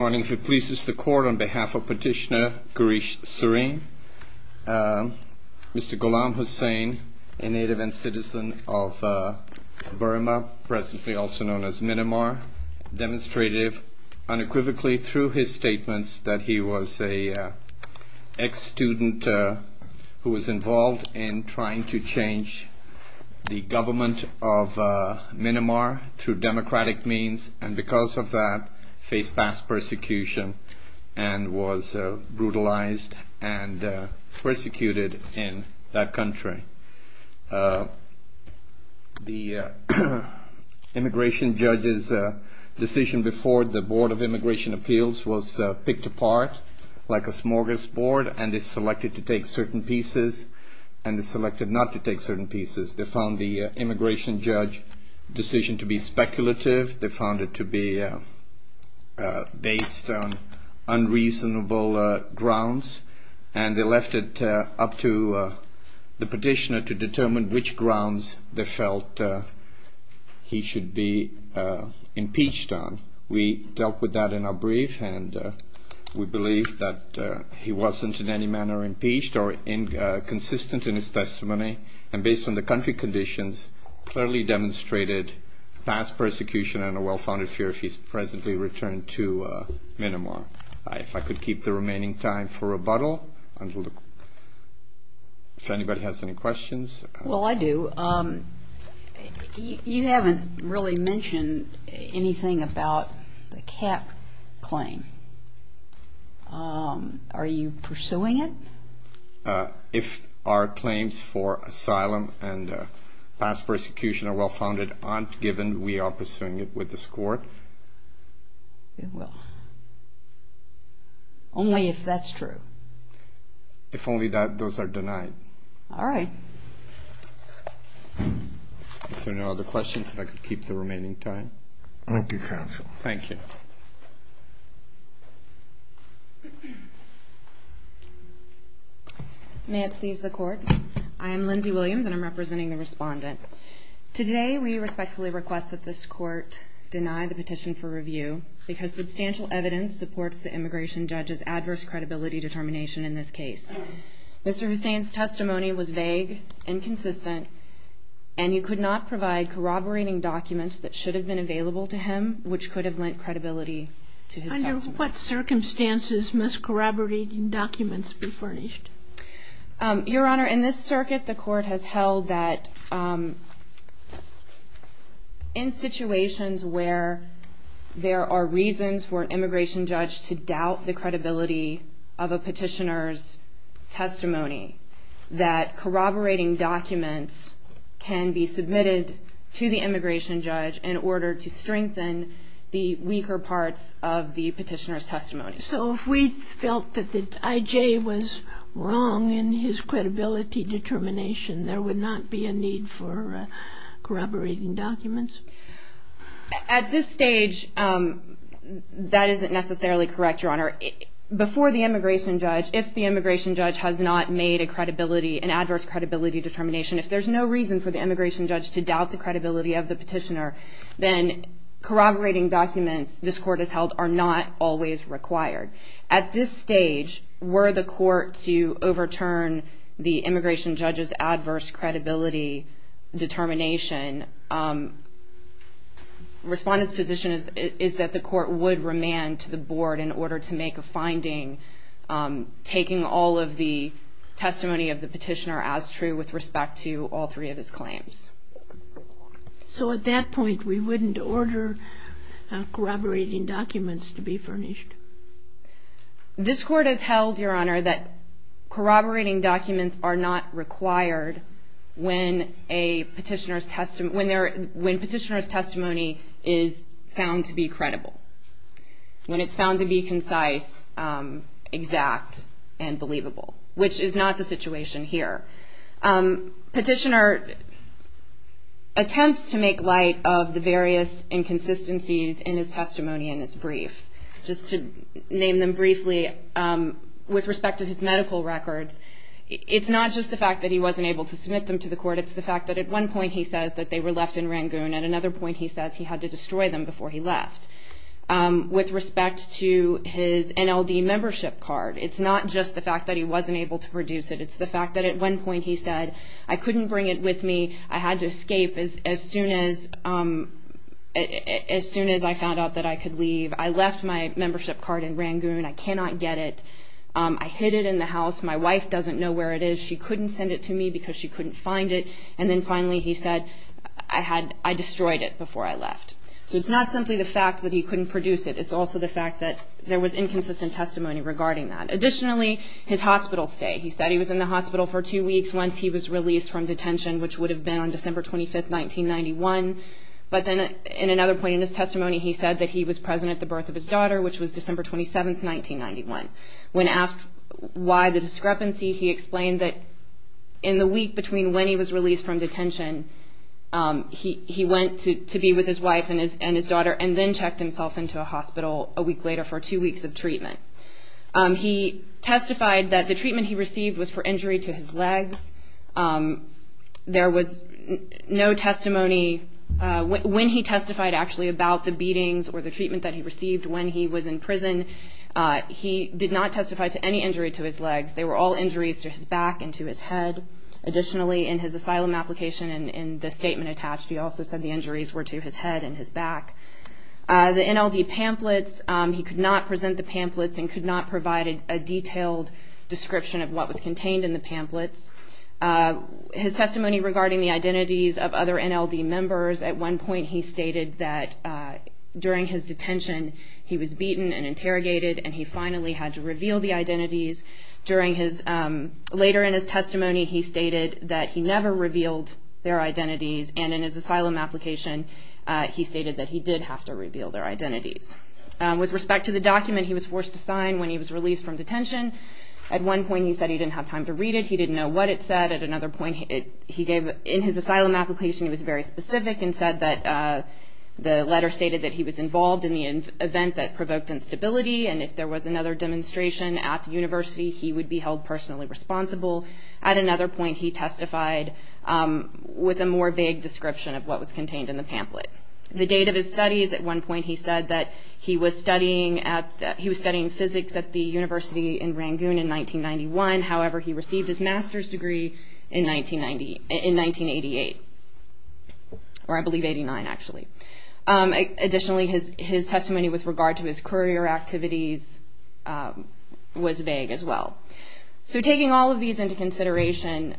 Good morning. If it pleases the Court, on behalf of Petitioner Girish Sareen, Mr. Ghulam Hussein, a native and citizen of Burma, presently also known as Minamar, demonstrated unequivocally through his statements that he was an ex-student who was involved in trying to change the government of Minamar through democratic means, and because of that, faced past persecution and was brutalized and persecuted in that country. The immigration judge's decision before the Board of Immigration Appeals was picked apart like a smorgasbord and is selected to take certain pieces and is selected not to take certain pieces. They found the immigration judge's decision to be speculative. They found it to be based on unreasonable grounds, and they left it up to the petitioner to determine which grounds they felt he should be impeached on. We dealt with that in our brief, and we believe that he wasn't in any manner impeached or inconsistent in his testimony. And based on the country conditions, clearly demonstrated past persecution and a well-founded fear if he's presently returned to Minamar. If I could keep the remaining time for rebuttal, if anybody has any questions. Well, I do. You haven't really mentioned anything about the cap claim. Are you pursuing it? If our claims for asylum and past persecution are well-founded, aren't given, we are pursuing it with this Court. We will. Only if that's true. If only those are denied. All right. Are there no other questions? If I could keep the remaining time. Thank you, counsel. Thank you. May it please the Court. I am Lindsay Williams, and I'm representing the Respondent. Today, we respectfully request that this Court deny the petition for review because substantial evidence supports the immigration judge's adverse credibility determination in this case. Mr. Hussain's testimony was vague, inconsistent, and you could not provide corroborating documents that should have been available to him which could have lent credibility to his testimony. Under what circumstances must corroborating documents be furnished? Your Honor, in this circuit, the Court has held that in situations where there are reasons for an immigration judge to doubt the credibility of a petitioner's testimony, that corroborating documents can be submitted to the immigration judge in order to strengthen the weaker parts of the petitioner's testimony. So if we felt that the I.J. was wrong in his credibility determination, there would not be a need for corroborating documents? At this stage, that isn't necessarily correct, Your Honor. Before the immigration judge, if the immigration judge has not made a credibility, an adverse credibility determination, if there's no reason for the immigration judge to doubt the credibility of the petitioner, then corroborating documents this Court has held are not always required. At this stage, were the Court to overturn the immigration judge's adverse credibility determination, the Respondent's position is that the Court would remand to the Board in order to make a finding, taking all of the testimony of the petitioner as true with respect to all three of his claims. So at that point, we wouldn't order corroborating documents to be furnished? This Court has held, Your Honor, that corroborating documents are not required when a petitioner's testimony is found to be credible. When it's found to be concise, exact, and believable, which is not the situation here. Petitioner attempts to make light of the various inconsistencies in his testimony in this brief. Just to name them briefly, with respect to his medical records, it's not just the fact that he wasn't able to submit them to the Court, it's the fact that at one point he says that they were left in Rangoon, at another point he says he had to destroy them before he left. With respect to his NLD membership card, it's not just the fact that he wasn't able to produce it, it's the fact that at one point he said, I couldn't bring it with me, I had to escape as soon as I found out that I could leave, I left my membership card in Rangoon, I cannot get it, I hid it in the house, my wife doesn't know where it is, she couldn't send it to me because she couldn't find it, and then finally he said, I destroyed it before I left. So it's not simply the fact that he couldn't produce it, it's also the fact that there was inconsistent testimony regarding that. Additionally, his hospital stay, he said he was in the hospital for two weeks once he was released from detention, which would have been on December 25th, 1991, but then in another point in his testimony he said that he was present at the birth of his daughter, which was December 27th, 1991. When asked why the discrepancy, he explained that in the week between when he was released from detention, he went to be with his wife and his daughter and then checked himself into a hospital a week later for two weeks of treatment. He testified that the treatment he received was for injury to his legs. There was no testimony, when he testified actually about the beatings or the treatment that he received when he was in prison, he did not testify to any injury to his legs. They were all injuries to his back and to his head. Additionally, in his asylum application, in the statement attached, he also said the injuries were to his head and his back. The NLD pamphlets, he could not present the pamphlets and could not provide a detailed description of what was contained in the pamphlets. His testimony regarding the identities of other NLD members, at one point he stated that during his detention, he was beaten and interrogated and he finally had to reveal the identities. Later in his testimony, he stated that he never revealed their identities and in his asylum application, he stated that he did have to reveal their identities. With respect to the document he was forced to sign when he was released from detention, at one point he said he didn't have time to read it, he didn't know what it said. At another point, in his asylum application, he was very specific and said that the letter stated that he was involved in the event that provoked instability and if there was another demonstration at the university, he would be held personally responsible. At another point, he testified with a more vague description of what was contained in the pamphlet. The date of his studies, at one point he said that he was studying physics at the university in Rangoon in 1991. However, he received his master's degree in 1988, or I believe 89 actually. Additionally, his testimony with regard to his courier activities was vague as well. So taking all of these into consideration,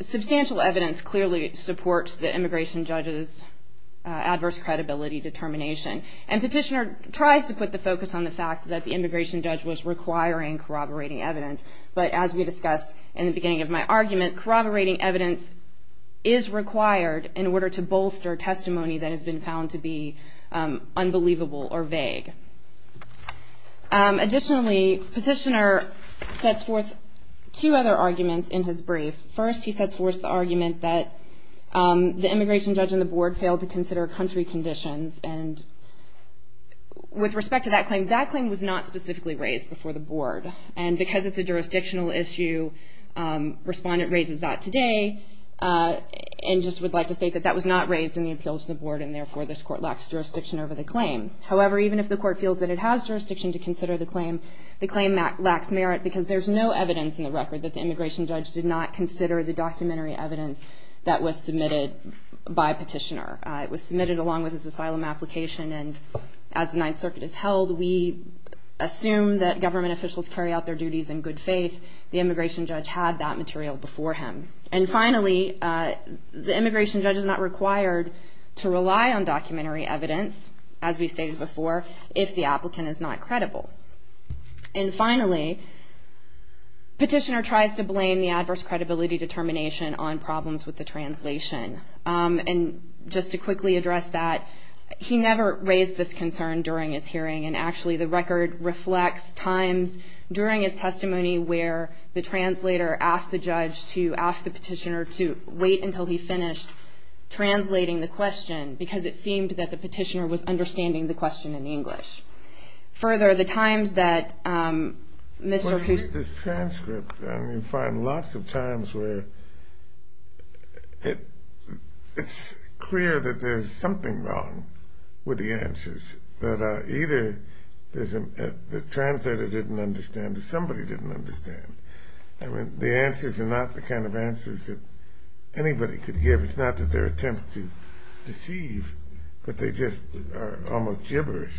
substantial evidence clearly supports the immigration judge's adverse credibility determination and Petitioner tries to put the focus on the fact that the immigration judge was requiring corroborating evidence but as we discussed in the beginning of my argument, corroborating evidence is required in order to bolster testimony that has been found to be unbelievable or vague. Additionally, Petitioner sets forth two other arguments in his brief. First, he sets forth the argument that the immigration judge and the board failed to consider country conditions and with respect to that claim, that claim was not specifically raised before the board and because it's a jurisdictional issue, respondent raises that today and just would like to state that that was not raised in the appeals to the board and therefore this court lacks jurisdiction over the claim. However, even if the court feels that it has jurisdiction to consider the claim, the claim lacks merit because there's no evidence in the record that the immigration judge did not consider the documentary evidence that was submitted by Petitioner. It was submitted along with his asylum application and as the Ninth Circuit is held, we assume that government officials carry out their duties in good faith. The immigration judge had that material before him. And finally, the immigration judge is not required to rely on documentary evidence, as we stated before, if the applicant is not credible. And finally, Petitioner tries to blame the adverse credibility determination on problems with the translation. And just to quickly address that, he never raised this concern during his hearing and actually the record reflects times during his testimony where the translator asked the judge to ask the Petitioner to wait until he finished translating the question because it seemed that the Petitioner was understanding the question in English. Further, the times that Mr. Cousteau You find lots of times where it's clear that there's something wrong with the answers that either the translator didn't understand or somebody didn't understand. I mean, the answers are not the kind of answers that anybody could give. It's not that they're attempts to deceive, but they just are almost gibberish.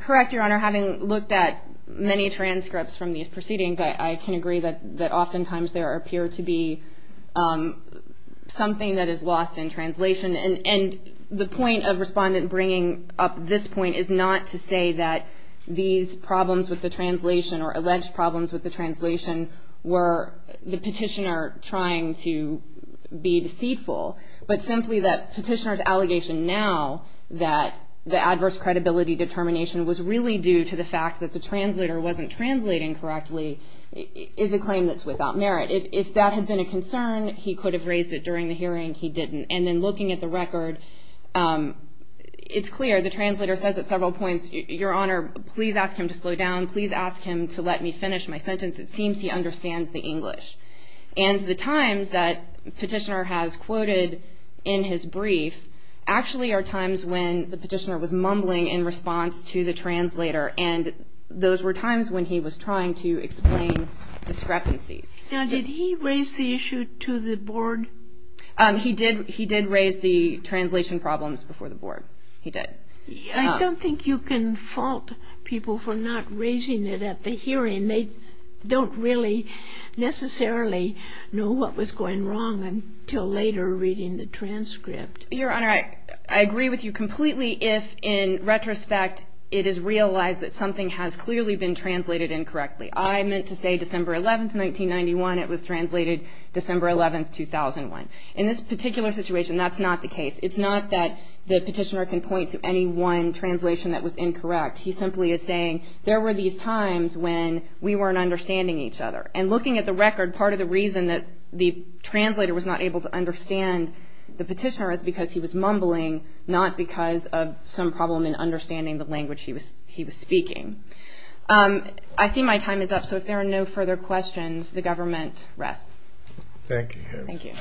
Correct, Your Honor. Having looked at many transcripts from these proceedings, I can agree that oftentimes there appear to be something that is lost in translation. And the point of Respondent bringing up this point is not to say that these problems with the translation or alleged problems with the translation were the Petitioner trying to be deceitful, but simply that Petitioner's allegation now that the adverse credibility determination was really due to the fact that the translator wasn't translating correctly is a claim that's without merit. If that had been a concern, he could have raised it during the hearing. He didn't. And then looking at the record, it's clear the translator says at several points, Your Honor, please ask him to slow down. Please ask him to let me finish my sentence. It seems he understands the English. And the times that Petitioner has quoted in his brief actually are times when the Petitioner was mumbling in response to the translator, and those were times when he was trying to explain discrepancies. Now, did he raise the issue to the Board? He did raise the translation problems before the Board. He did. I don't think you can fault people for not raising it at the hearing. I mean, they don't really necessarily know what was going wrong until later reading the transcript. Your Honor, I agree with you completely if, in retrospect, it is realized that something has clearly been translated incorrectly. I meant to say December 11, 1991. It was translated December 11, 2001. In this particular situation, that's not the case. It's not that the Petitioner can point to any one translation that was incorrect. In fact, he simply is saying, there were these times when we weren't understanding each other. And looking at the record, part of the reason that the translator was not able to understand the Petitioner is because he was mumbling, not because of some problem in understanding the language he was speaking. I see my time is up, so if there are no further questions, the government rests. Thank you, Your Honor. Thank you.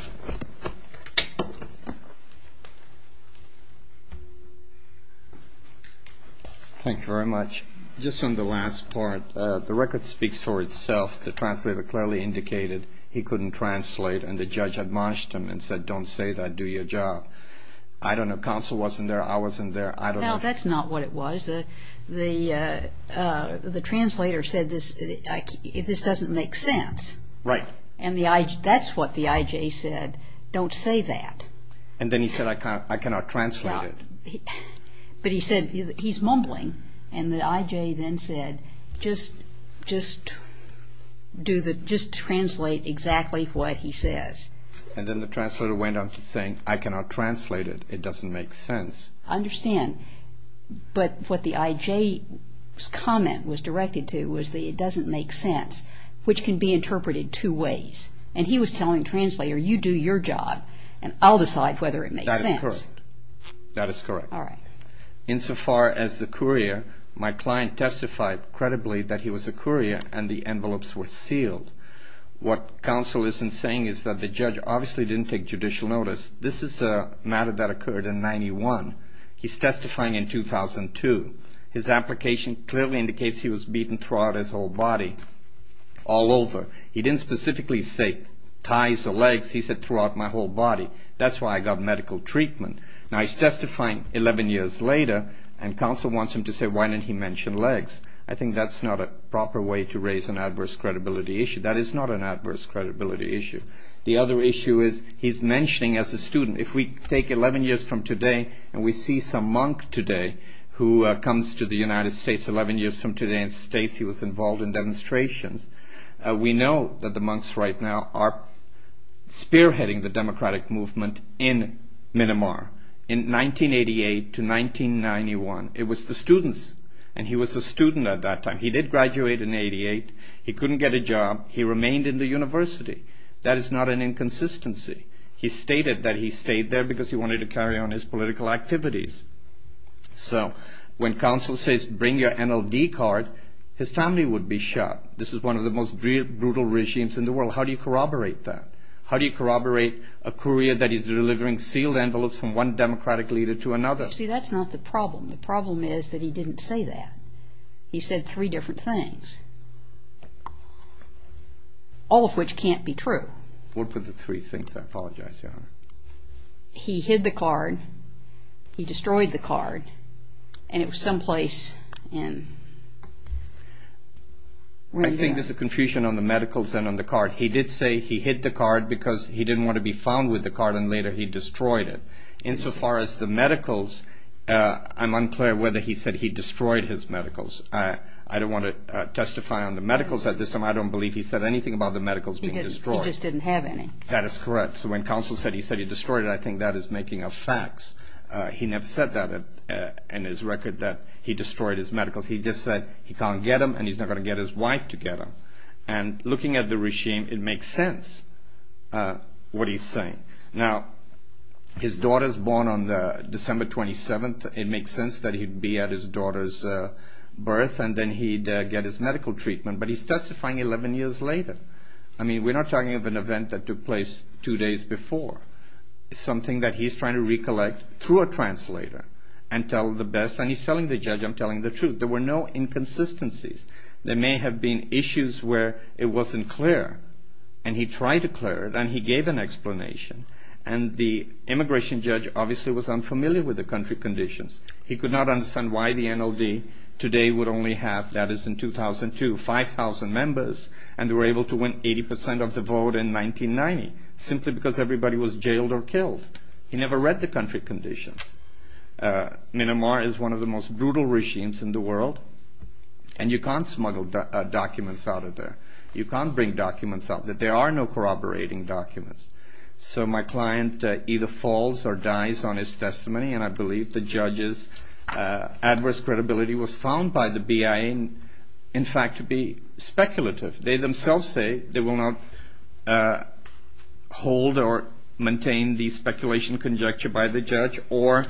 Thank you very much. Just on the last part, the record speaks for itself. The translator clearly indicated he couldn't translate, and the judge admonished him and said, don't say that, do your job. I don't know, counsel wasn't there, I wasn't there, I don't know. No, that's not what it was. The translator said, this doesn't make sense. Right. And that's what the I.J. said, don't say that. And then he said, I cannot translate it. But he said, he's mumbling. And the I.J. then said, just translate exactly what he says. And then the translator went on to say, I cannot translate it, it doesn't make sense. I understand. But what the I.J.'s comment was directed to was that it doesn't make sense, which can be interpreted two ways. And he was telling the translator, you do your job, and I'll decide whether it makes sense. That is correct. All right. Insofar as the courier, my client testified credibly that he was a courier and the envelopes were sealed. What counsel isn't saying is that the judge obviously didn't take judicial notice. This is a matter that occurred in 91. He's testifying in 2002. His application clearly indicates he was beaten throughout his whole body, all over. He didn't specifically say thighs or legs, he said throughout my whole body. That's why I got medical treatment. Now, he's testifying 11 years later, and counsel wants him to say, why didn't he mention legs? I think that's not a proper way to raise an adverse credibility issue. That is not an adverse credibility issue. The other issue is he's mentioning as a student, if we take 11 years from today and we see some monk today who comes to the United States 11 years from today and states he was involved in demonstrations, we know that the monks right now are spearheading the democratic movement in Myanmar in 1988 to 1991. It was the students, and he was a student at that time. He did graduate in 88. He couldn't get a job. He remained in the university. That is not an inconsistency. He stated that he stayed there because he wanted to carry on his political activities. So when counsel says, bring your NLD card, his family would be shot. This is one of the most brutal regimes in the world. How do you corroborate that? How do you corroborate a courier that is delivering sealed envelopes from one democratic leader to another? See, that's not the problem. The problem is that he didn't say that. He said three different things, all of which can't be true. What were the three things? I apologize, Your Honor. He hid the card. He destroyed the card. And it was someplace in... I think there's a confusion on the medicals and on the card. He did say he hid the card because he didn't want to be found with the card, and later he destroyed it. Insofar as the medicals, I'm unclear whether he said he destroyed his medicals. I don't want to testify on the medicals at this time. I don't believe he said anything about the medicals being destroyed. He just didn't have any. That is correct. So when counsel said he said he destroyed it, I think that is making up facts. He never said that in his record that he destroyed his medicals. He just said he can't get them, and he's not going to get his wife to get them. And looking at the regime, it makes sense what he's saying. Now, his daughter is born on December 27th. It makes sense that he'd be at his daughter's birth, and then he'd get his medical treatment. But he's testifying 11 years later. I mean, we're not talking of an event that took place two days before. It's something that he's trying to recollect through a translator and tell the best. And he's telling the judge, I'm telling the truth. There were no inconsistencies. There may have been issues where it wasn't clear, and he tried to clear it, and he gave an explanation. And the immigration judge obviously was unfamiliar with the country conditions. He could not understand why the NLD today would only have, that is in 2002, 5,000 members, and they were able to win 80 percent of the vote in 1990 simply because everybody was jailed or killed. He never read the country conditions. Myanmar is one of the most brutal regimes in the world, and you can't smuggle documents out of there. You can't bring documents up. There are no corroborating documents. So my client either falls or dies on his testimony, and I believe the judge's adverse credibility was found by the BIA, in fact, to be speculative. They themselves say they will not hold or maintain the speculation conjecture by the judge or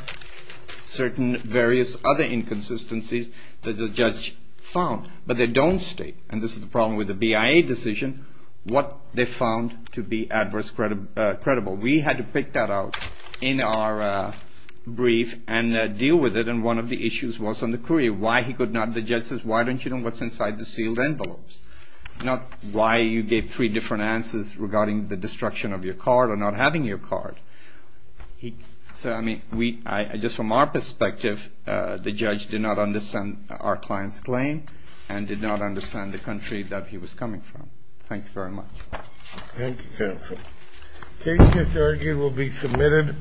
certain various other inconsistencies that the judge found. But they don't state, and this is the problem with the BIA decision, what they found to be adverse credible. We had to pick that out in our brief and deal with it, and one of the issues was on the courier, why he could not, the judge says, why don't you know what's inside the sealed envelopes? Not why you gave three different answers regarding the destruction of your card or not having your card. So, I mean, just from our perspective, the judge did not understand our client's claim and did not understand the country that he was coming from. Thank you very much. Thank you, counsel. Cases to argue will be submitted.